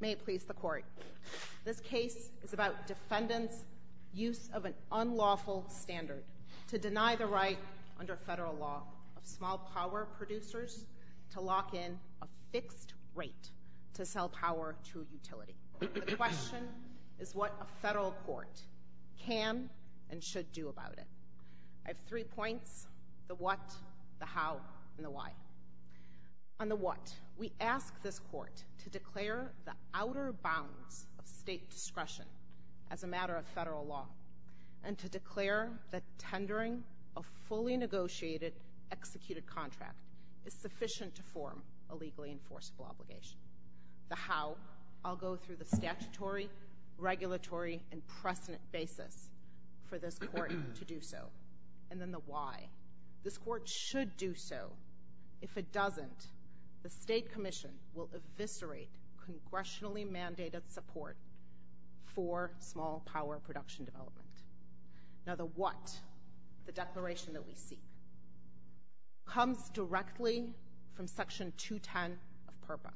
May it please the Court. This case is about defendants' use of an unlawful standard to deny the right, under federal law, of small power producers to lock in a fixed rate to sell power to a utility. The question is what a federal court can and should do about it. I have three points, the what, the how, and the why. On the what, we ask this Court to declare the outer bounds of state discretion as a matter of federal law and to declare that tendering a fully negotiated, executed contract is sufficient to form a legally enforceable obligation. The how, I'll go through the statutory, regulatory, and precedent basis for this Court to do so. And then the why. This Court should do so. If it doesn't, the state commission will eviscerate congressionally mandated support for small power production development. Now the what, the declaration that we seek, comes directly from Section 210 of PURPA.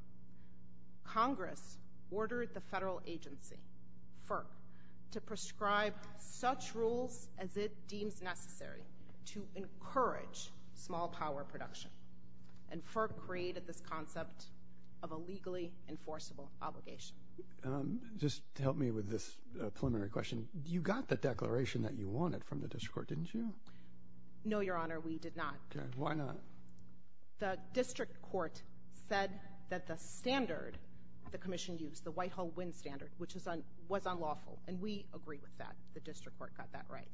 Congress ordered the federal agency, FERC, to prescribe such rules as it deems necessary to encourage small power production. And FERC created this concept of a legally enforceable obligation. Just to help me with this preliminary question, you got the declaration that you wanted from the district court, didn't you? No, Your Honor, we did not. Why not? The district court said that the standard the commission used, the Whitehall Wind Standard, which was unlawful, and we agree with that. The district court got that right.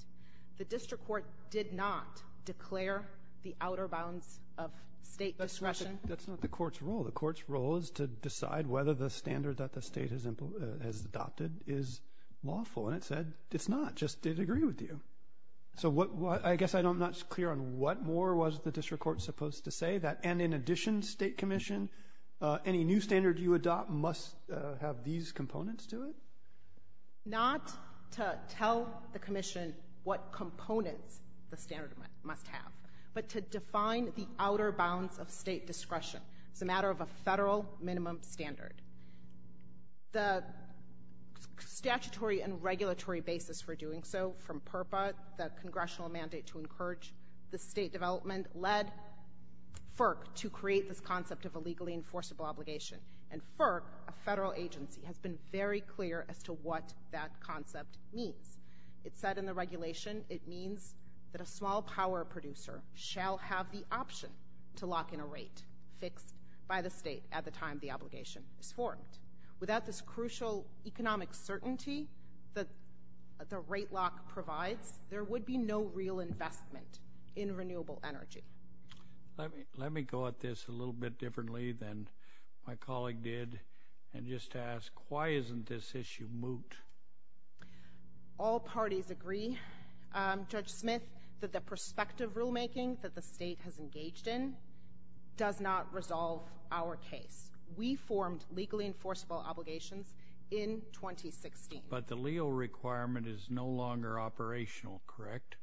The district court did not declare the outer bounds of state discretion. That's not the court's role. The court's role is to decide whether the standard that the state has adopted is lawful. And it said it's not. Just did agree with you. So I guess I'm not clear on what more was the district court supposed to say that, and in addition, state commission, any new standard you adopt must have these components to it? Not to tell the commission what components the standard must have, but to define the outer bounds of state discretion. It's a matter of a federal minimum standard. The statutory and regulatory basis for doing so, from PURPA, the congressional mandate to encourage the state development, led FERC to create this concept of a legally enforceable obligation. And FERC, a federal agency, has been very clear as to what that concept means. It said in the regulation, it means that a small power producer shall have the option to lock in a rate fixed by the state at the time the obligation is formed. Without this crucial economic certainty that the rate lock provides, there would be no real investment in renewable energy. Let me go at this a little bit differently than my colleague did, and just ask, why isn't this issue moot? All parties agree, Judge Smith, that the prospective rulemaking that the state has engaged in, does not resolve our case. We formed legally enforceable obligations in 2016. But the LEO requirement is no longer operational, correct?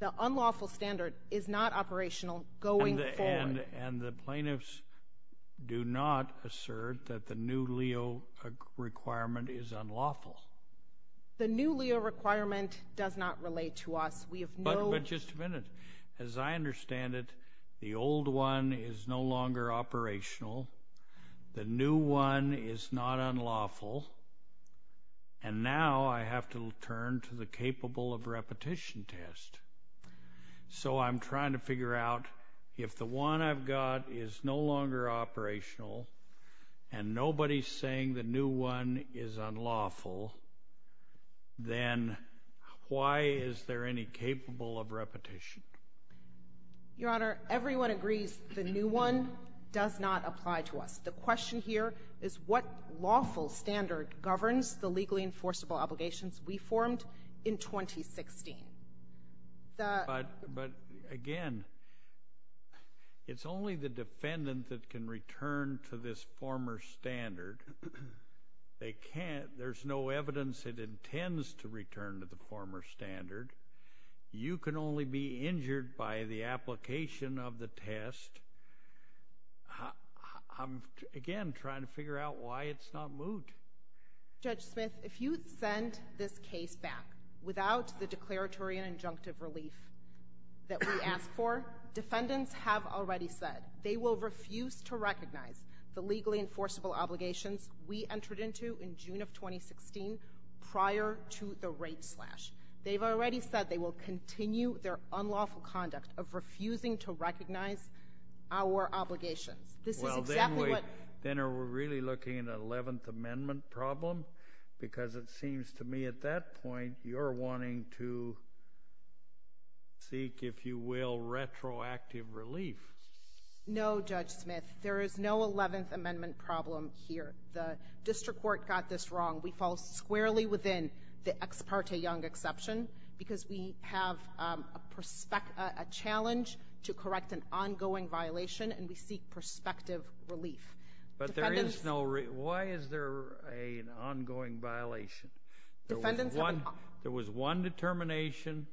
The unlawful standard is not operational going forward. And the plaintiffs do not assert that the new LEO requirement is unlawful? The new LEO requirement does not relate to us. But just a minute. As I understand it, the old one is no longer operational, the new one is not unlawful, and now I have to turn to the capable of repetition test. So I'm trying to figure out, if the one I've got is no longer operational, and nobody's the new one is unlawful, then why is there any capable of repetition? Your Honor, everyone agrees the new one does not apply to us. The question here is, what lawful standard governs the legally enforceable obligations we formed in 2016? But, again, it's only the defendant that can return to this former standard. They can't, there's no evidence it intends to return to the former standard. You can only be injured by the application of the test. I'm, again, trying to figure out why it's not moved. Judge Smith, if you send this case back without the declaratory and injunctive relief that we asked for, defendants have already said they will refuse to recognize the legally enforceable obligations we entered into in June of 2016 prior to the rape slash. They've already said they will continue their unlawful conduct of refusing to recognize our obligations. Well, then are we really looking at an 11th Amendment problem? Because it seems to me at that point you're wanting to seek, if you will, retroactive relief. No, Judge Smith, there is no 11th Amendment problem here. The district court got this wrong. We fall squarely within the Ex parte Young exception because we have a challenge to correct an ongoing violation and we seek prospective relief. But there is no, why is there an ongoing violation? There was one determination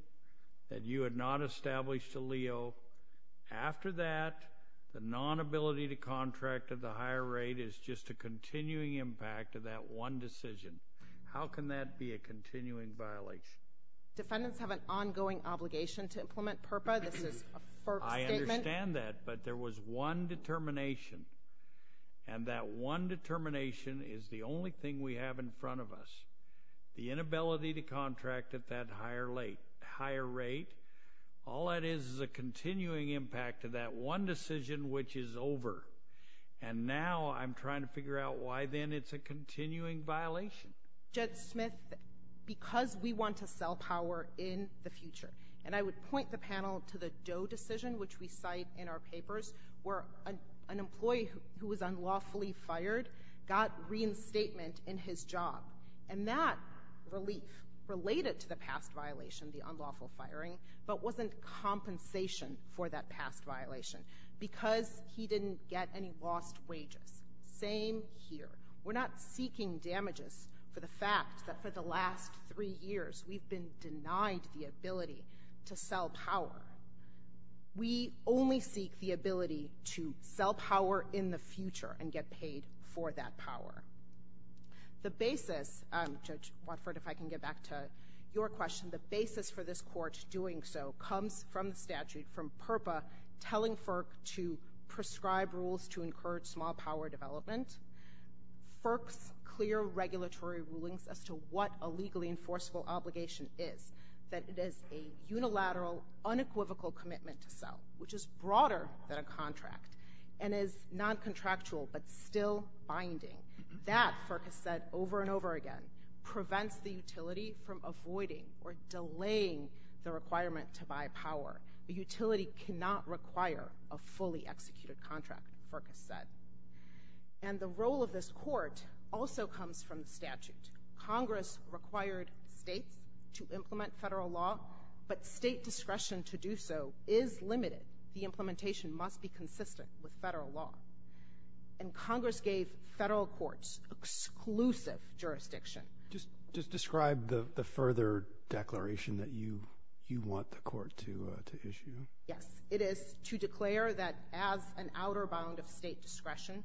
that you had not established to Leo. After that, the non-ability to contract at the higher rate is just a continuing impact of that one decision. How can that be a continuing violation? Defendants have an ongoing obligation to implement PURPA. I understand that, but there was one determination and that one determination is the only thing we have in front of us. The inability to contract at that higher rate, all that is is a continuing impact of that one decision which is over. And now I'm trying to figure out why then it's a continuing violation. Judge Smith, because we want to sell power in the future. And I would point the panel to the Doe decision which we cite in our papers where an employee who was unlawfully fired got reinstatement in his job. And that relief related to the past violation, the unlawful firing, but wasn't compensation for that past violation because he didn't get any lost wages. Same here. We're not seeking damages for the fact that for the last three years we've been denied the ability to sell power. We only seek the ability to sell power in the future and get paid for that power. The basis, Judge Watford, if I can get back to your question, the basis for this court doing so comes from the statute, from PURPA telling FERC to prescribe rules to encourage small power development, FERC's clear regulatory rulings as to what a legally enforceable obligation is, that it is a unilateral, unequivocal commitment to sell, which is broader than a contract and is noncontractual but still binding. That, FERC has said over and over again, prevents the utility from avoiding or delaying the requirement to buy power. A utility cannot require a fully executed contract, FERC has said. Congress required states to implement federal law, but state discretion to do so is limited. The implementation must be consistent with federal law. And Congress gave federal courts exclusive jurisdiction. Just describe the further declaration that you want the court to issue. Yes. It is to declare that as an outer bound of state discretion,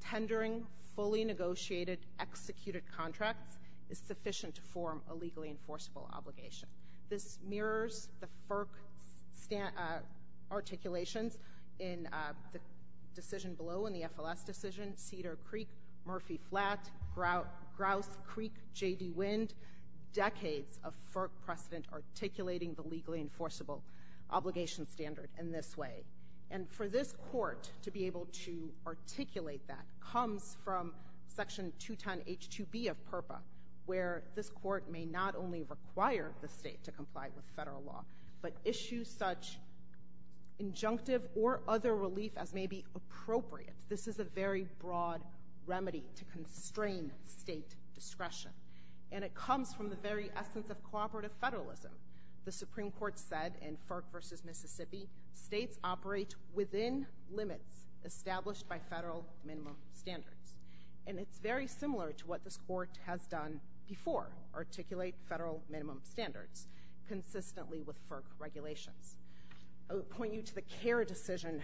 tendering fully negotiated executed contracts is sufficient to form a legally enforceable obligation. This mirrors the FERC articulations in the decision below in the FLS decision, Cedar Creek, Murphy Flat, Grouse Creek, J.D. Wind, decades of FERC precedent articulating the legally enforceable obligation standard in this way. And for this court to be able to articulate that comes from Section 210H2B of PURPA, where this court may not only require the state to comply with federal law, but issue such injunctive or other relief as may be appropriate. This is a very broad remedy to constrain state discretion. And it comes from the very essence of cooperative federalism. The Supreme Court said in FERC v. Mississippi, states operate within limits established by federal minimum standards. And it's very similar to what this court has done before, articulate federal minimum standards, consistently with FERC regulations. I would point you to the CARE decision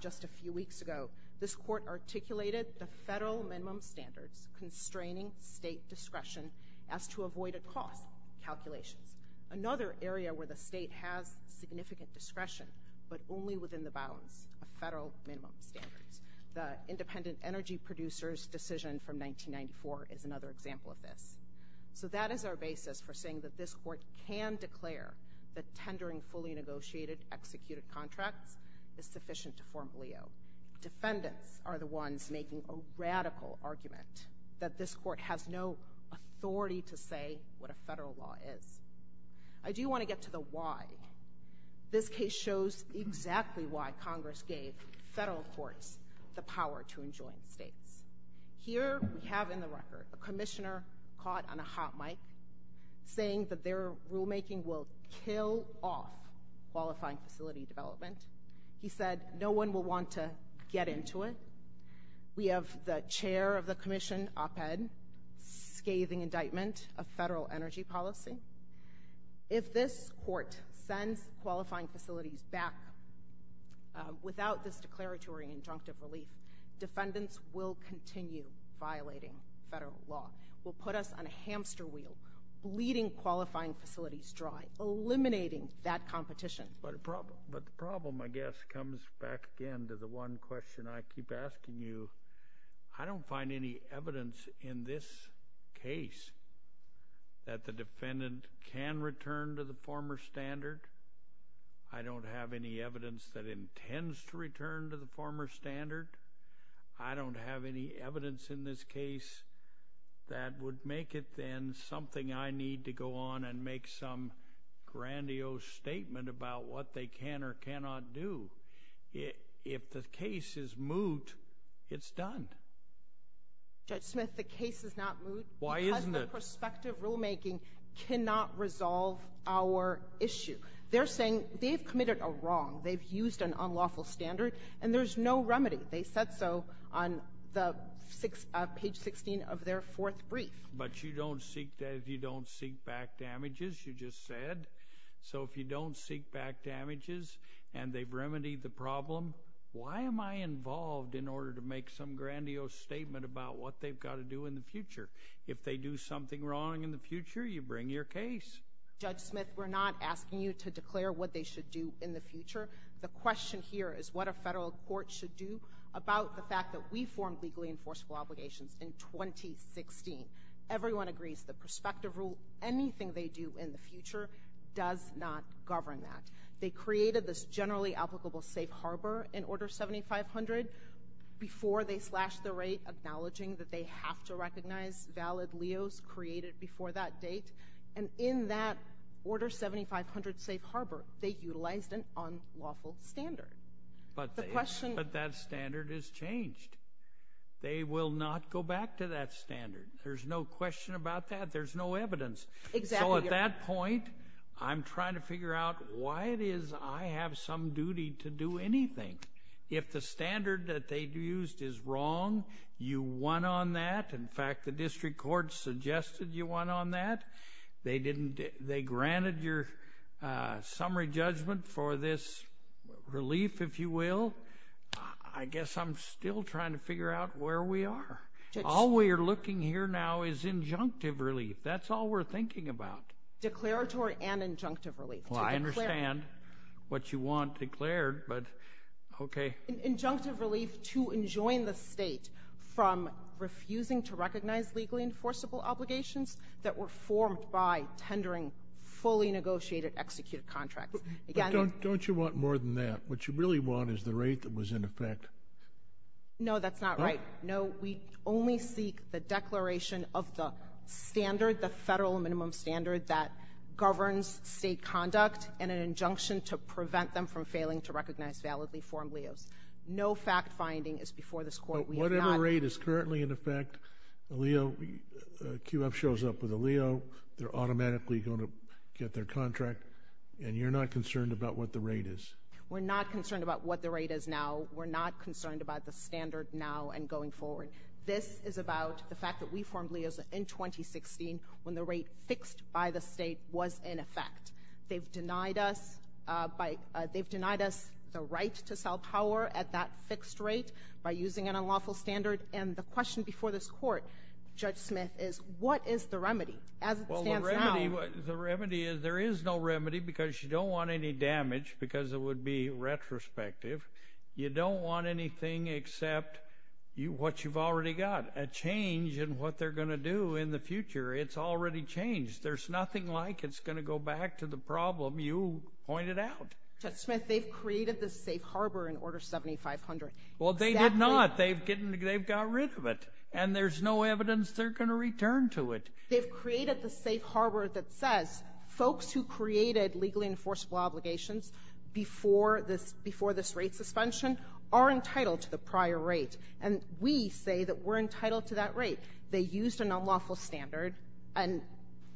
just a few weeks ago. This court articulated the federal minimum standards constraining state discretion as to avoid a cost calculation. Another area where the state has significant discretion, but only within the bounds of federal minimum standards. The independent energy producers decision from 1994 is another example of this. So that is our basis for saying that this court can declare that tendering fully negotiated executed contracts is sufficient to form Leo. Defendants are the ones making a radical argument that this court has no authority to say what a federal law is. I do want to get to the why. This case shows exactly why Congress gave federal courts the power to enjoin states. Here we have in the record a commissioner caught on a hot mic saying that their rule making will kill off qualifying facility development. He said no one will want to get into it. We have the chair of the commission op-ed scathing indictment of federal energy policy. If this court sends qualifying facilities back without this declaratory injunctive relief, defendants will continue violating federal law, will put us on a hamster wheel bleeding qualifying facilities dry, eliminating that competition. But the problem, I guess, comes back again to the one question I keep asking you. I don't find any evidence in this case that the defendant can return to the former standard. I don't have any evidence that intends to return to the former standard. I don't have any evidence in this case that would make it then something I need to go on and make some grandiose statement about what they can or cannot do. If the case is moot, it's done. Judge Smith, the case is not moot because the prospective rulemaking cannot resolve our issue. They're saying they've committed a wrong, they've used an unlawful standard, and there's no remedy. They said so on page 16 of their fourth brief. But you don't seek back damages, you just said. So if you don't seek back damages and they've remedied the problem, why am I involved in order to make some grandiose statement about what they've got to do in the future? If they do something wrong in the future, you bring your case. Judge Smith, we're not asking you to declare what they should do in the future. The question here is what a federal court should do about the fact that we formed legally enforceable obligations in 2016. Everyone agrees the prospective rule, anything they do in the future, does not govern that. They created this generally applicable safe harbor in Order 7500 before they slashed the rate acknowledging that they have to recognize valid LEOs created before that date. And in that Order 7500 safe harbor, they utilized an unlawful standard. But that standard has changed. They will not go back to that standard. There's no question about that. There's no evidence. Exactly. So at that point, I'm trying to figure out why it is I have some duty to do anything. If the standard that they used is wrong, you won on that. In fact, the district court suggested you won on that. They granted your summary judgment for this relief, if you will. I guess I'm still trying to figure out where we are. All we're looking here now is injunctive relief. That's all we're thinking about. Declaratory and injunctive relief. Well, I understand what you want declared, but okay. Injunctive relief to enjoin the state from refusing to recognize legally enforceable obligations that were formed by tendering fully negotiated, executed contracts. Don't you want more than that? What you really want is the rate that was in effect. No, that's not right. No, we only seek the declaration of the standard, the federal minimum standard that governs state conduct and an injunction to prevent them from failing to recognize validly formed LEOs. No fact finding is before this court. Whatever rate is currently in effect, a QF shows up with a LEO, they're automatically going to get their contract, and you're not concerned about what the rate is? We're not concerned about what the rate is now. We're not concerned about the standard now and going forward. This is about the fact that we formed LEOs in 2016 when the rate fixed by the state was in effect. They've denied us the right to sell power at that fixed rate by using an unlawful standard. And the question before this court, Judge Smith, is what is the remedy as it stands now? The remedy is there is no remedy because you don't want any damage because it would be retrospective. You don't want anything except what you've already got, a change in what they're going to do in the future. It's already changed. There's nothing like it's going to go back to the problem you pointed out. Judge Smith, they've created the safe harbor in Order 7500. Well, they did not. They've got rid of it, and there's no evidence they're going to return to it. They've created the safe harbor that says folks who created legally enforceable obligations before this rate suspension are entitled to the prior rate. And we say that we're entitled to that rate. They used an unlawful standard. And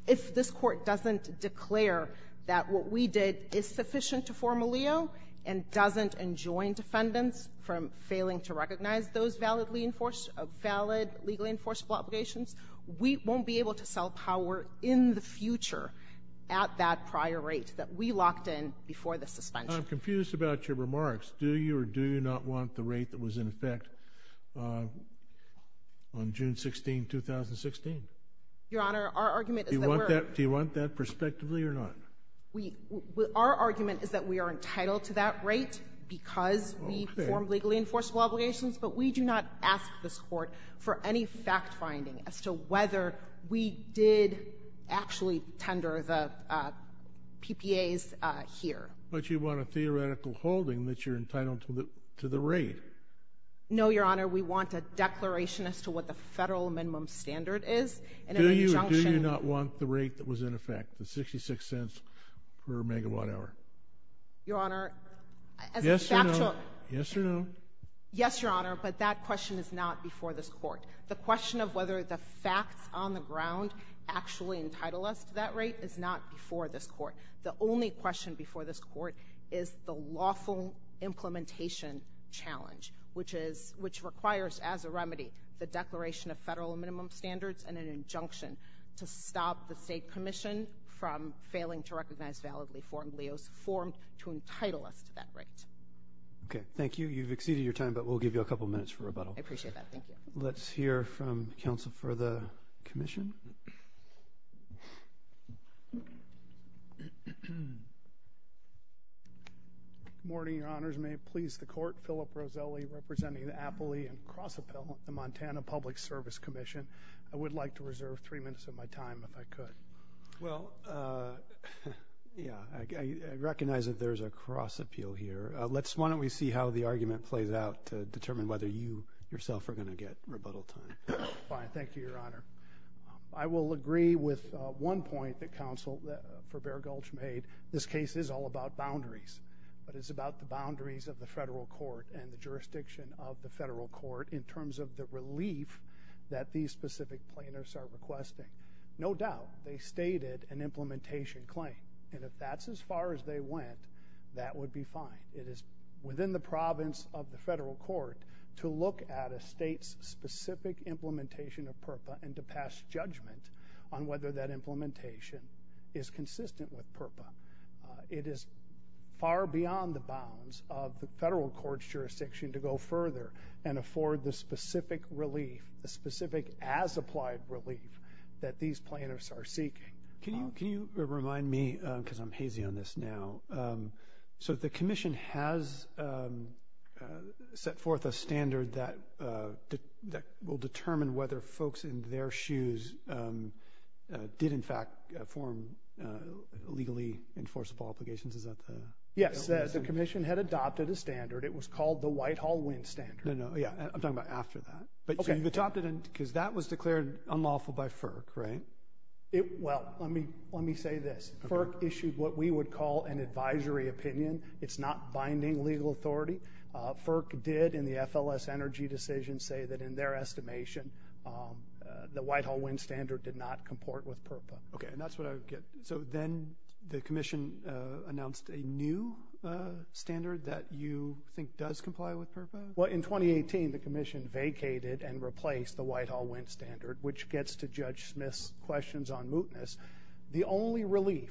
if this Court doesn't declare that what we did is sufficient to form a LEO and doesn't enjoin defendants from failing to recognize those validly enforced or valid legally enforceable obligations, we won't be able to sell power in the future at that prior rate that we locked in before the suspension. I'm confused about your remarks. Do you or do you not want the rate that was in effect on June 16th, 2016? Your Honor, our argument is that we're going to be able to do that. Do you want that prospectively or not? We — our argument is that we are entitled to that rate because we formed legally enforceable obligations, but we do not ask this Court for any fact-finding as to whether we did actually tender the PPAs here. But you want a theoretical holding that you're entitled to the rate. No, Your Honor. We want a declaration as to what the Federal minimum standard is and an injunction Do you or do you not want the rate that was in effect, the 66 cents per megawatt hour? Your Honor, as a factual — Yes or no? Yes, Your Honor, but that question is not before this Court. The question of whether the facts on the ground actually entitle us to that rate is not before this Court. The only question before this Court is the lawful implementation challenge, which is — which requires, as a remedy, the declaration of Federal minimum standards and an injunction to stop the State Commission from failing to recognize validly formed leos formed to entitle us to that rate. Okay. Thank you. You've exceeded your time, but we'll give you a couple minutes for rebuttal. I appreciate that. Thank you. Let's hear from counsel for the Commission. Good morning, Your Honors. May it please the Court, Philip Roselli, representing the Appley and Cross-Appel, the Montana Public Service Commission. I would like to reserve three minutes of my time, if I could. Well, yeah, I recognize that there's a cross-appeal here. Why don't we see how the argument plays out to determine whether you, yourself, are going to get rebuttal time. Fine. Thank you, Your Honor. I will agree with one point that counsel for Bair Gulch made. This case is all about boundaries, but it's about the boundaries of the Federal Court and the jurisdiction of the Federal Court in terms of the relief that these specific plaintiffs are requesting. No doubt they stated an implementation claim, and if that's as far as they went, that would be fine. It is within the province of the Federal Court to look at a state's specific implementation of PRPA and to pass judgment on whether that implementation is consistent with PRPA. It is far beyond the bounds of the Federal Court's jurisdiction to go further and afford the specific relief, the specific as-applied relief, that these plaintiffs are seeking. Can you remind me, because I'm hazy on this now, so the Commission has set forth a standard that will determine whether folks in their shoes did, in fact, form legally enforceable obligations. Is that the? Yes. The Commission had adopted a standard. It was called the Whitehall-Winn standard. No, no. Yeah. I'm talking about after that. Okay. So you adopted it because that was declared unlawful by FERC, right? Well, let me say this. FERC issued what we would call an advisory opinion. It's not binding legal authority. FERC did in the FLS energy decision say that in their estimation, the Whitehall-Winn standard did not comport with PRPA. Okay. And that's what I would get. So then the Commission announced a new standard that you think does comply with PRPA? Well, in 2018, the Commission vacated and replaced the Whitehall-Winn standard, which gets to Judge Smith's questions on mootness. The only relief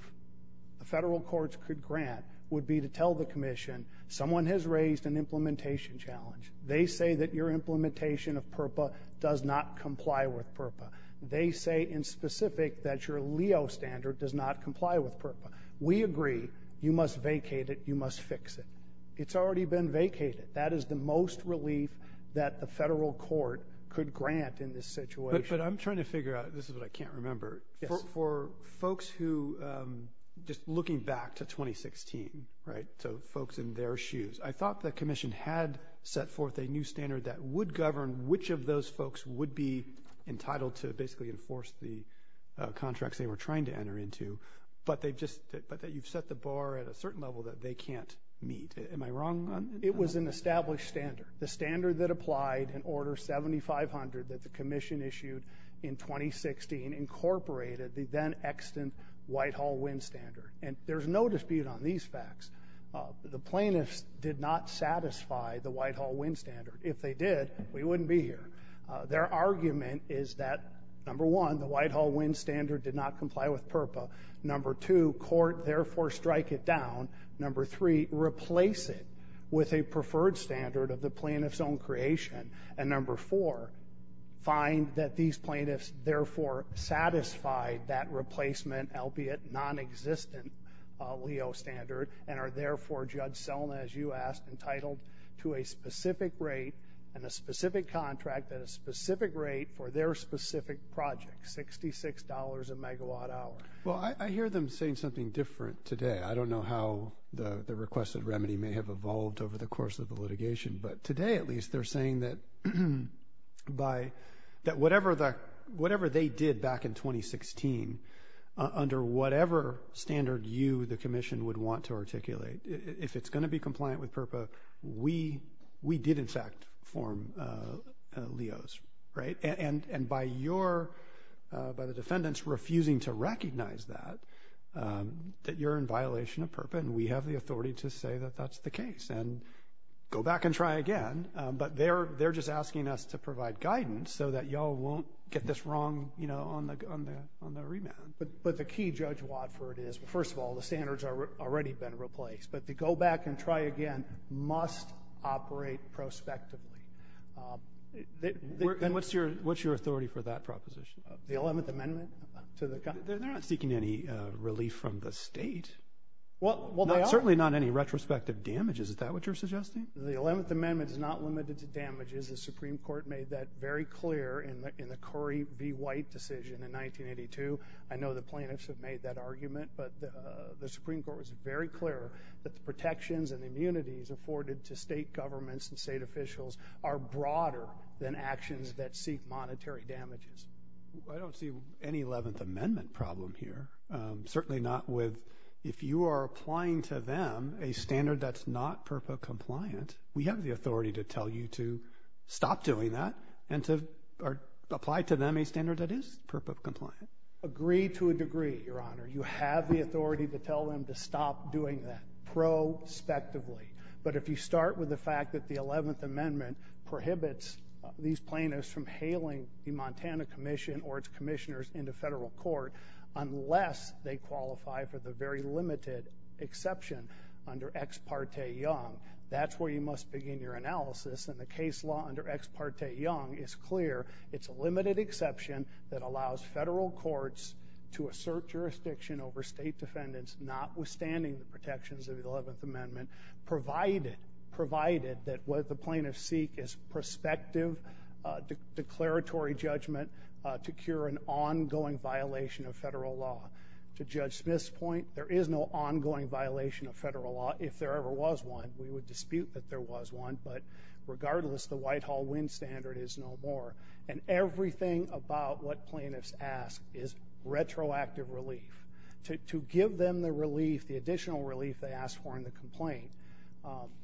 the Federal Courts could grant would be to tell the Commission, someone has raised an implementation challenge. They say that your implementation of PRPA does not comply with PRPA. They say in specific that your LEO standard does not comply with PRPA. We agree. You must vacate it. You must fix it. It's already been vacated. That is the most relief that the Federal Court could grant in this situation. But I'm trying to figure out, this is what I can't remember. For folks who, just looking back to 2016, right, so folks in their shoes. I thought the Commission had set forth a new standard that would govern which of those folks would be entitled to basically enforce the contracts they were trying to enter into, but they've just, but you've set the bar at a certain level that they can't meet. Am I wrong? It was an established standard. The standard that applied in Order 7500 that the Commission issued in 2016 incorporated the then-extant Whitehall-Winn standard. And there's no dispute on these facts. The plaintiffs did not satisfy the Whitehall-Winn standard. If they did, we wouldn't be here. Their argument is that, number one, the Whitehall-Winn standard did not comply with PRPA. Number two, court, therefore, strike it down. Number three, replace it with a preferred standard of the plaintiff's own creation. And number four, find that these plaintiffs, therefore, satisfied that replacement, albeit non-existent, LEO standard, and are therefore, Judge Selma, as you asked, entitled to a specific rate and a specific contract at a specific rate for their specific project, $66 a megawatt hour. Well, I hear them saying something different today. I don't know how the requested remedy may have evolved over the course of the litigation, but today, at least, they're saying that by, that whatever the, whatever they did back in 2016, under whatever standard you, the commission, would want to articulate, if it's going to be compliant with PRPA, we did, in fact, form LEOs, right? And by your, by the defendants, refusing to recognize that, that you're in violation of PRPA and we have the authority to say that that's the case and go back and try again. But they're just asking us to provide guidance so that y'all won't get this wrong, you know, on the, on the remand. But the key, Judge Watford, is, first of all, the standards are already been replaced, but to go back and try again must operate prospectively. And what's your, what's your authority for that proposition? The Eleventh Amendment to the, they're not seeking any relief from the state. Well, they are. Certainly not any retrospective damage, is that what you're suggesting? The Eleventh Amendment is not limited to damages, the Supreme Court made that very clear in the Curry v. White decision in 1982. I know the plaintiffs have made that argument, but the Supreme Court was very clear that the protections and immunities afforded to state governments and state officials are broader than actions that seek monetary damages. I don't see any Eleventh Amendment problem here, certainly not with, if you are applying to them a standard that's not PRPA compliant, we have the authority to tell you to stop doing that and to, or apply to them a standard that is PRPA compliant. Agree to a degree, Your Honor. You have the authority to tell them to stop doing that, prospectively. But if you start with the fact that the Eleventh Amendment prohibits these plaintiffs from hailing the Montana Commission or its commissioners into federal court, unless they qualify for the very limited exception under Ex Parte Young, that's where you must begin your analysis. And the case law under Ex Parte Young is clear. It's a limited exception that allows federal courts to assert jurisdiction over state defendants, notwithstanding the protections of the Eleventh Amendment, provided that what the plaintiffs seek is prospective declaratory judgment to cure an ongoing violation of federal law. To Judge Smith's point, there is no ongoing violation of federal law. If there ever was one, we would dispute that there was one, but regardless, the Whitehall Winn standard is no more. And everything about what plaintiffs ask is retroactive relief. To give them the relief, the additional relief they asked for in the complaint,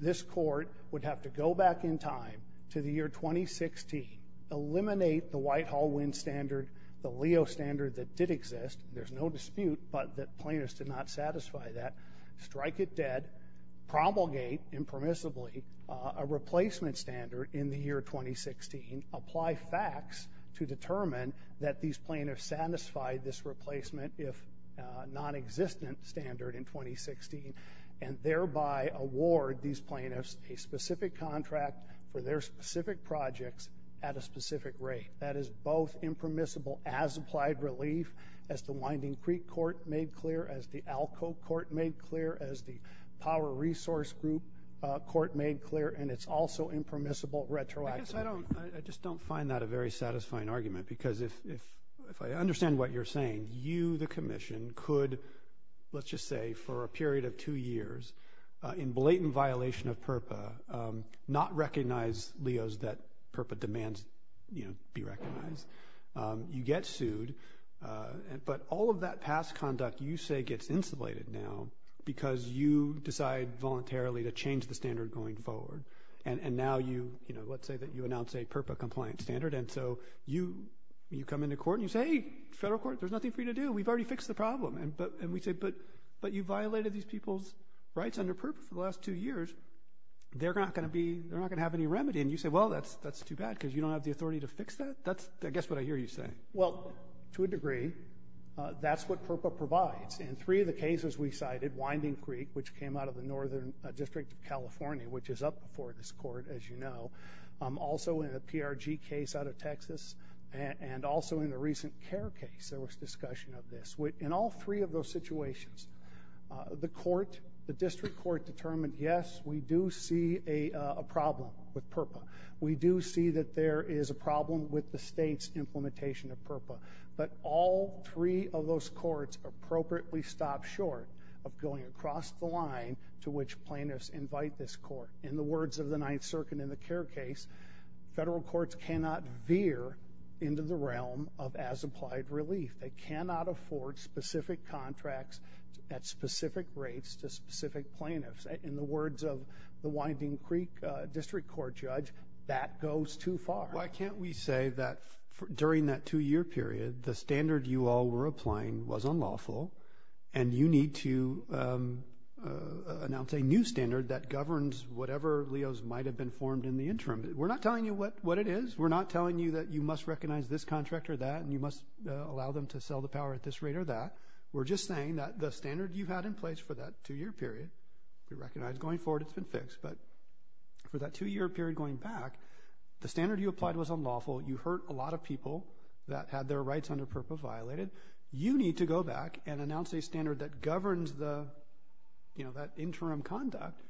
this court would have to go back in time to the year 2016, eliminate the Whitehall Winn standard, the Leo standard that did exist, there's no dispute, but that plaintiffs did not satisfy that, strike it dead, promulgate impermissibly a replacement standard in the year 2016, apply facts to determine that these plaintiffs satisfied this replacement, if nonexistent, standard in 2016, and thereby award these plaintiffs a specific contract for their specific projects at a specific rate. That is both impermissible as applied relief, as the Winding Creek Court made clear, as the Alco Court made clear, as the Power Resource Group Court made clear, and it's also impermissible retroactively. I guess I don't, I just don't find that a very satisfying argument, because if I understand what you're saying, you, the commission, could, let's just say, for a period of two years, in blatant violation of PURPA, not recognize Leo's, that PURPA demands, you know, be recognized. You get sued, but all of that past conduct, you say, gets insulated now, because you decide voluntarily to change the standard going forward, and now you, you know, let's say that you announce a PURPA-compliant standard, and so you come into court, and you say, hey, federal court, there's nothing for you to do, we've already fixed the problem, and we say, but you violated these people's rights under PURPA for the last two years, they're not going to be, they're not going to have any remedy, and you say, well, that's too bad, because you don't have the authority to fix that? That's, I guess, what I hear you saying. Well, to a degree, that's what PURPA provides, and three of the cases we cited, Winding Creek, which came out of the Northern District of California, which is up before this court, as you know, also in a PRG case out of Texas, and also in a recent CARE case, there was discussion of this. In all three of those situations, the court, the district court determined, yes, we do see a problem with PURPA. We do see that there is a problem with the state's implementation of PURPA, but all three of those courts appropriately stopped short of going across the line to which plaintiffs invite this court. In the words of the Ninth Circuit in the CARE case, federal courts cannot veer into the realm of as-applied relief. They cannot afford specific contracts at specific rates to specific plaintiffs. In the words of the Winding Creek district court judge, that goes too far. Why can't we say that during that two-year period, the standard you all were applying was unlawful, and you need to announce a new standard that governs whatever LEOs might have been formed in the interim? We're not telling you what it is. We're not telling you that you must recognize this contract or that, and you must allow them to sell the power at this rate or that. We're just saying that the standard you had in place for that two-year period, we recognize going forward it's been fixed, but for that two-year period going back, the standard you applied was unlawful. You hurt a lot of people that had their rights under PURPA violated. You need to go back and announce a standard that governs that interim conduct,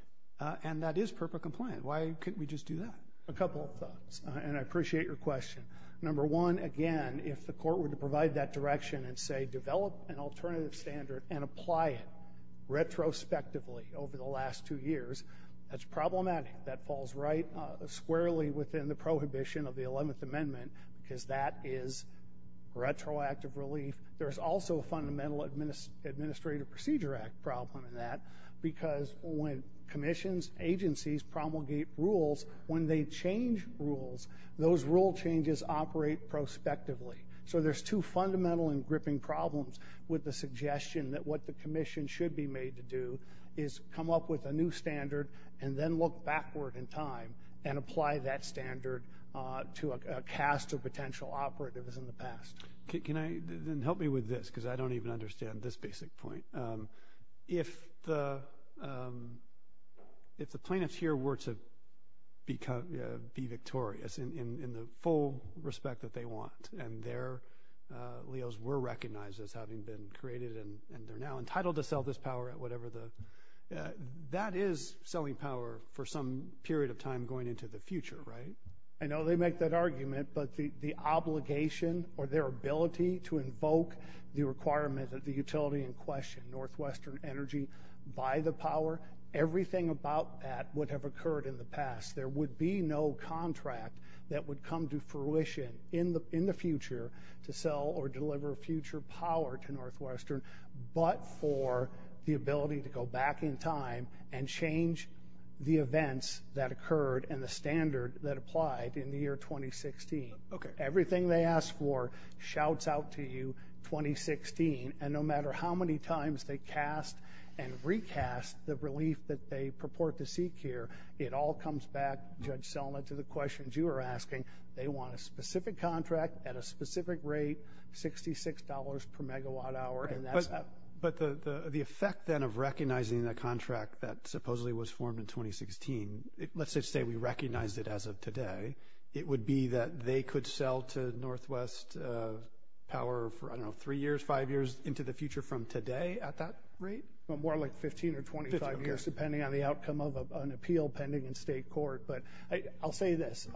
and that is PURPA compliant. Why couldn't we just do that? A couple of thoughts, and I appreciate your question. Number one, again, if the court were to provide that direction and say develop an alternative standard and apply it retrospectively over the last two years, that's problematic. That falls right squarely within the prohibition of the 11th Amendment, because that is retroactive relief. There's also a Fundamental Administrative Procedure Act problem in that, because when commissions, agencies, promulgate rules, when they change rules, those rule changes operate prospectively. So there's two fundamental and gripping problems with the suggestion that what the commission should be made to do is come up with a new standard and then look backward in time and apply that standard to a cast of potential operatives in the past. Can I, then help me with this, because I don't even understand this basic point. If the plaintiffs here were to be victorious in the full respect that they want, and their leos were recognized as having been created and they're now entitled to sell this power at whatever the, that is selling power for some period of time going into the future, right? I know they make that argument, but the obligation or their ability to invoke the requirement that the utility in question, Northwestern Energy, buy the power, everything about that would have occurred in the past. There would be no contract that would come to fruition in the future to sell or deliver future power to Northwestern, but for the ability to go back in time and change the events that occurred and the standard that applied in the year 2016. Everything they ask for shouts out to you, 2016, and no matter how many times they cast and recast the relief that they purport to seek here, it all comes back, Judge Selma, to the questions you were asking. They want a specific contract at a specific rate, $66 per megawatt hour, and that's that. But the effect then of recognizing the contract that supposedly was formed in 2016, let's just say we recognized it as of today, it would be that they could sell to Northwest power for, I don't know, three years, five years into the future from today at that rate? Well, more like 15 or 25 years, depending on the outcome of an appeal pending in state court. But I'll say this.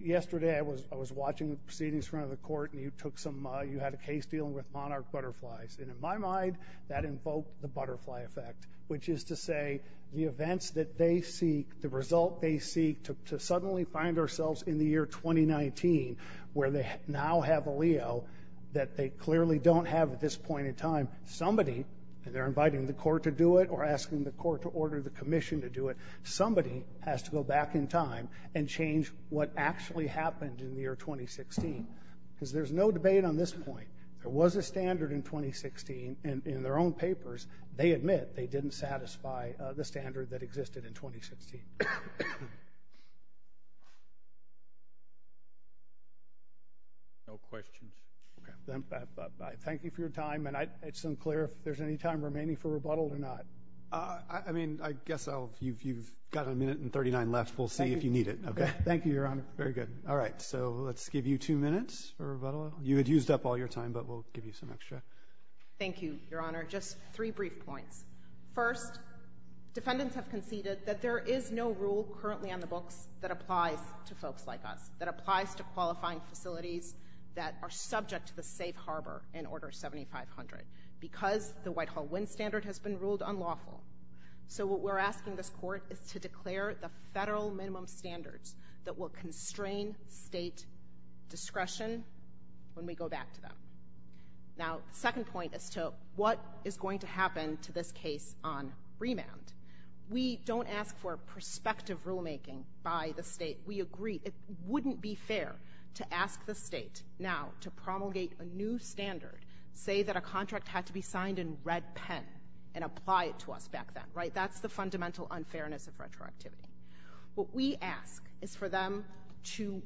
Yesterday, I was watching the proceedings in front of the court and you took some, you had a case dealing with Monarch Butterflies, and in my mind, that invoked the butterfly effect, which is to say the events that they seek, the result they seek, to suddenly find ourselves in the year 2019, where they now have a Leo that they clearly don't have at this point in time, somebody, and they're inviting the court to do it or asking the court to order the commission to do it, somebody has to go back in time and change what actually happened in the year 2016, because there's no debate on this point. There was a standard in 2016, and in their own papers, they admit they didn't satisfy the standard that existed in 2016. No questions. Okay. Thank you for your time, and it's unclear if there's any time remaining for rebuttal or not. I mean, I guess I'll, you've got a minute and 39 left. We'll see if you need it. Okay. Thank you, Your Honor. Very good. All right. So let's give you two minutes for rebuttal. You had used up all your time, but we'll give you some extra. Thank you, Your Honor. Just three brief points. First, defendants have conceded that there is no rule currently on the books that applies to folks like us, that applies to qualifying facilities that are subject to the safe harbor in Order 7500, because the Whitehall Wind Standard has been ruled unlawful. So what we're asking this court is to declare the federal minimum standards that will constrain state discretion when we go back to them. Now, the second point as to what is going to happen to this case on remand. We don't ask for prospective rulemaking by the state. We agree it wouldn't be fair to ask the state now to promulgate a new standard, say that a contract had to be signed in red pen and apply it to us back then, right? That's the fundamental unfairness of retroactivity. What we ask is for them to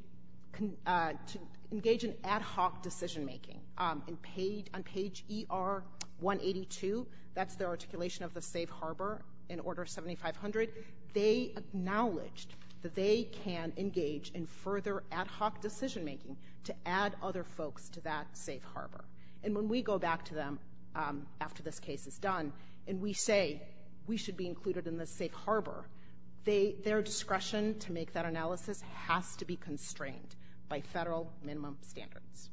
engage in ad hoc decision making. On page ER 182, that's the articulation of the safe harbor in Order 7500, they acknowledged that they can engage in further ad hoc decision making to add other folks to that safe harbor. And when we go back to them after this case is done and we say we should be included in the safe harbor, their discretion to make that analysis has to be constrained by federal minimum standards.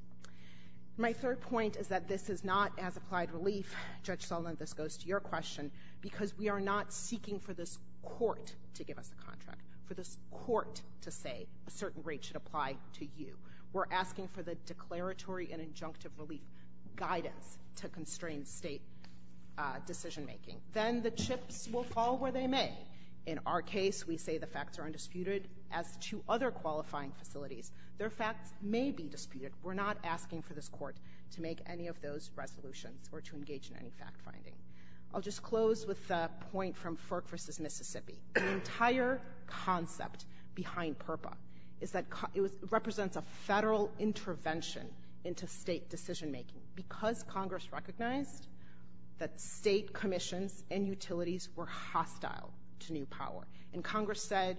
My third point is that this is not as applied relief, Judge Sullivan, this goes to your question, because we are not seeking for this court to give us a contract, for this court to say a certain rate should apply to you. We're asking for the declaratory and injunctive relief guidance to constrain state decision making. Then the chips will fall where they may. In our case, we say the facts are undisputed. As to other qualifying facilities, their facts may be disputed. We're not asking for this court to make any of those resolutions or to engage in any fact finding. I'll just close with a point from Ferk v. Mississippi. The entire concept behind PURPA is that it represents a federal intervention into state decision making, because Congress recognized that state commissions and utilities were hostile to new power, and Congress said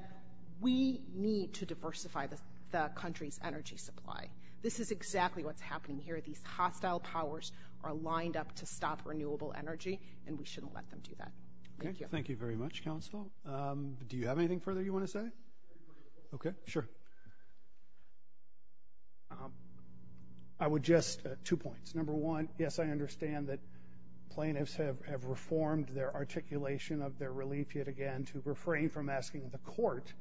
we need to diversify the country's energy supply. This is exactly what's happening here, these hostile powers are lined up to stop renewable energy and we shouldn't let them do that. Thank you. Thank you very much, counsel. Do you have anything further you want to say? Okay, sure. Thank you. I would just, two points. Number one, yes, I understand that plaintiffs have reformed their articulation of their relief yet again to refrain from asking the court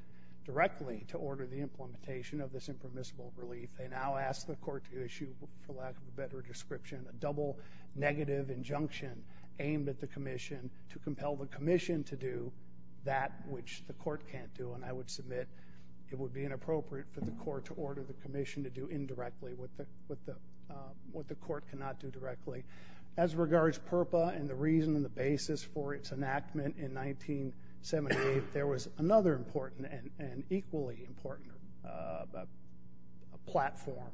directly to order the implementation of this impermissible relief. They now ask the court to issue, for lack of a better description, a double negative injunction aimed at the commission to compel the commission to do that which the court can't do. And I would submit it would be inappropriate for the court to order the commission to do indirectly what the court cannot do directly. As regards PURPA and the reason and the basis for its enactment in 1978, there was another important and equally important platform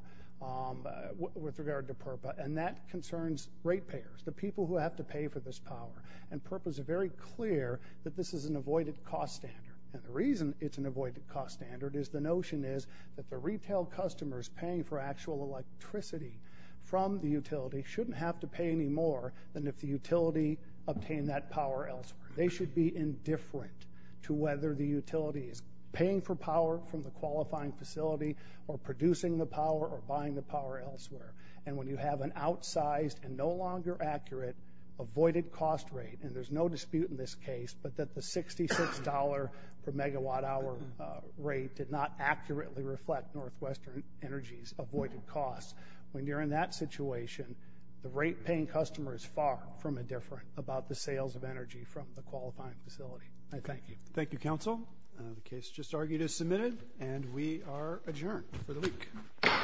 with regard to PURPA, and that concerns rate payers, the people who have to pay for this power. And PURPA is very clear that this is an avoided cost standard. And the reason it's an avoided cost standard is the notion is that the retail customers paying for actual electricity from the utility shouldn't have to pay any more than if the utility obtained that power elsewhere. They should be indifferent to whether the utility is paying for power from the qualifying facility or producing the power or buying the power elsewhere. And when you have an outsized and no longer accurate avoided cost rate, and there's no dispute in this case, but that the $66 per megawatt hour rate did not accurately reflect Northwestern Energy's avoided cost, when you're in that situation, the rate paying customer is far from indifferent about the sales of energy from the qualifying facility. I thank you. Thank you, counsel. The case just argued is submitted, and we are adjourned for the week. Thank you.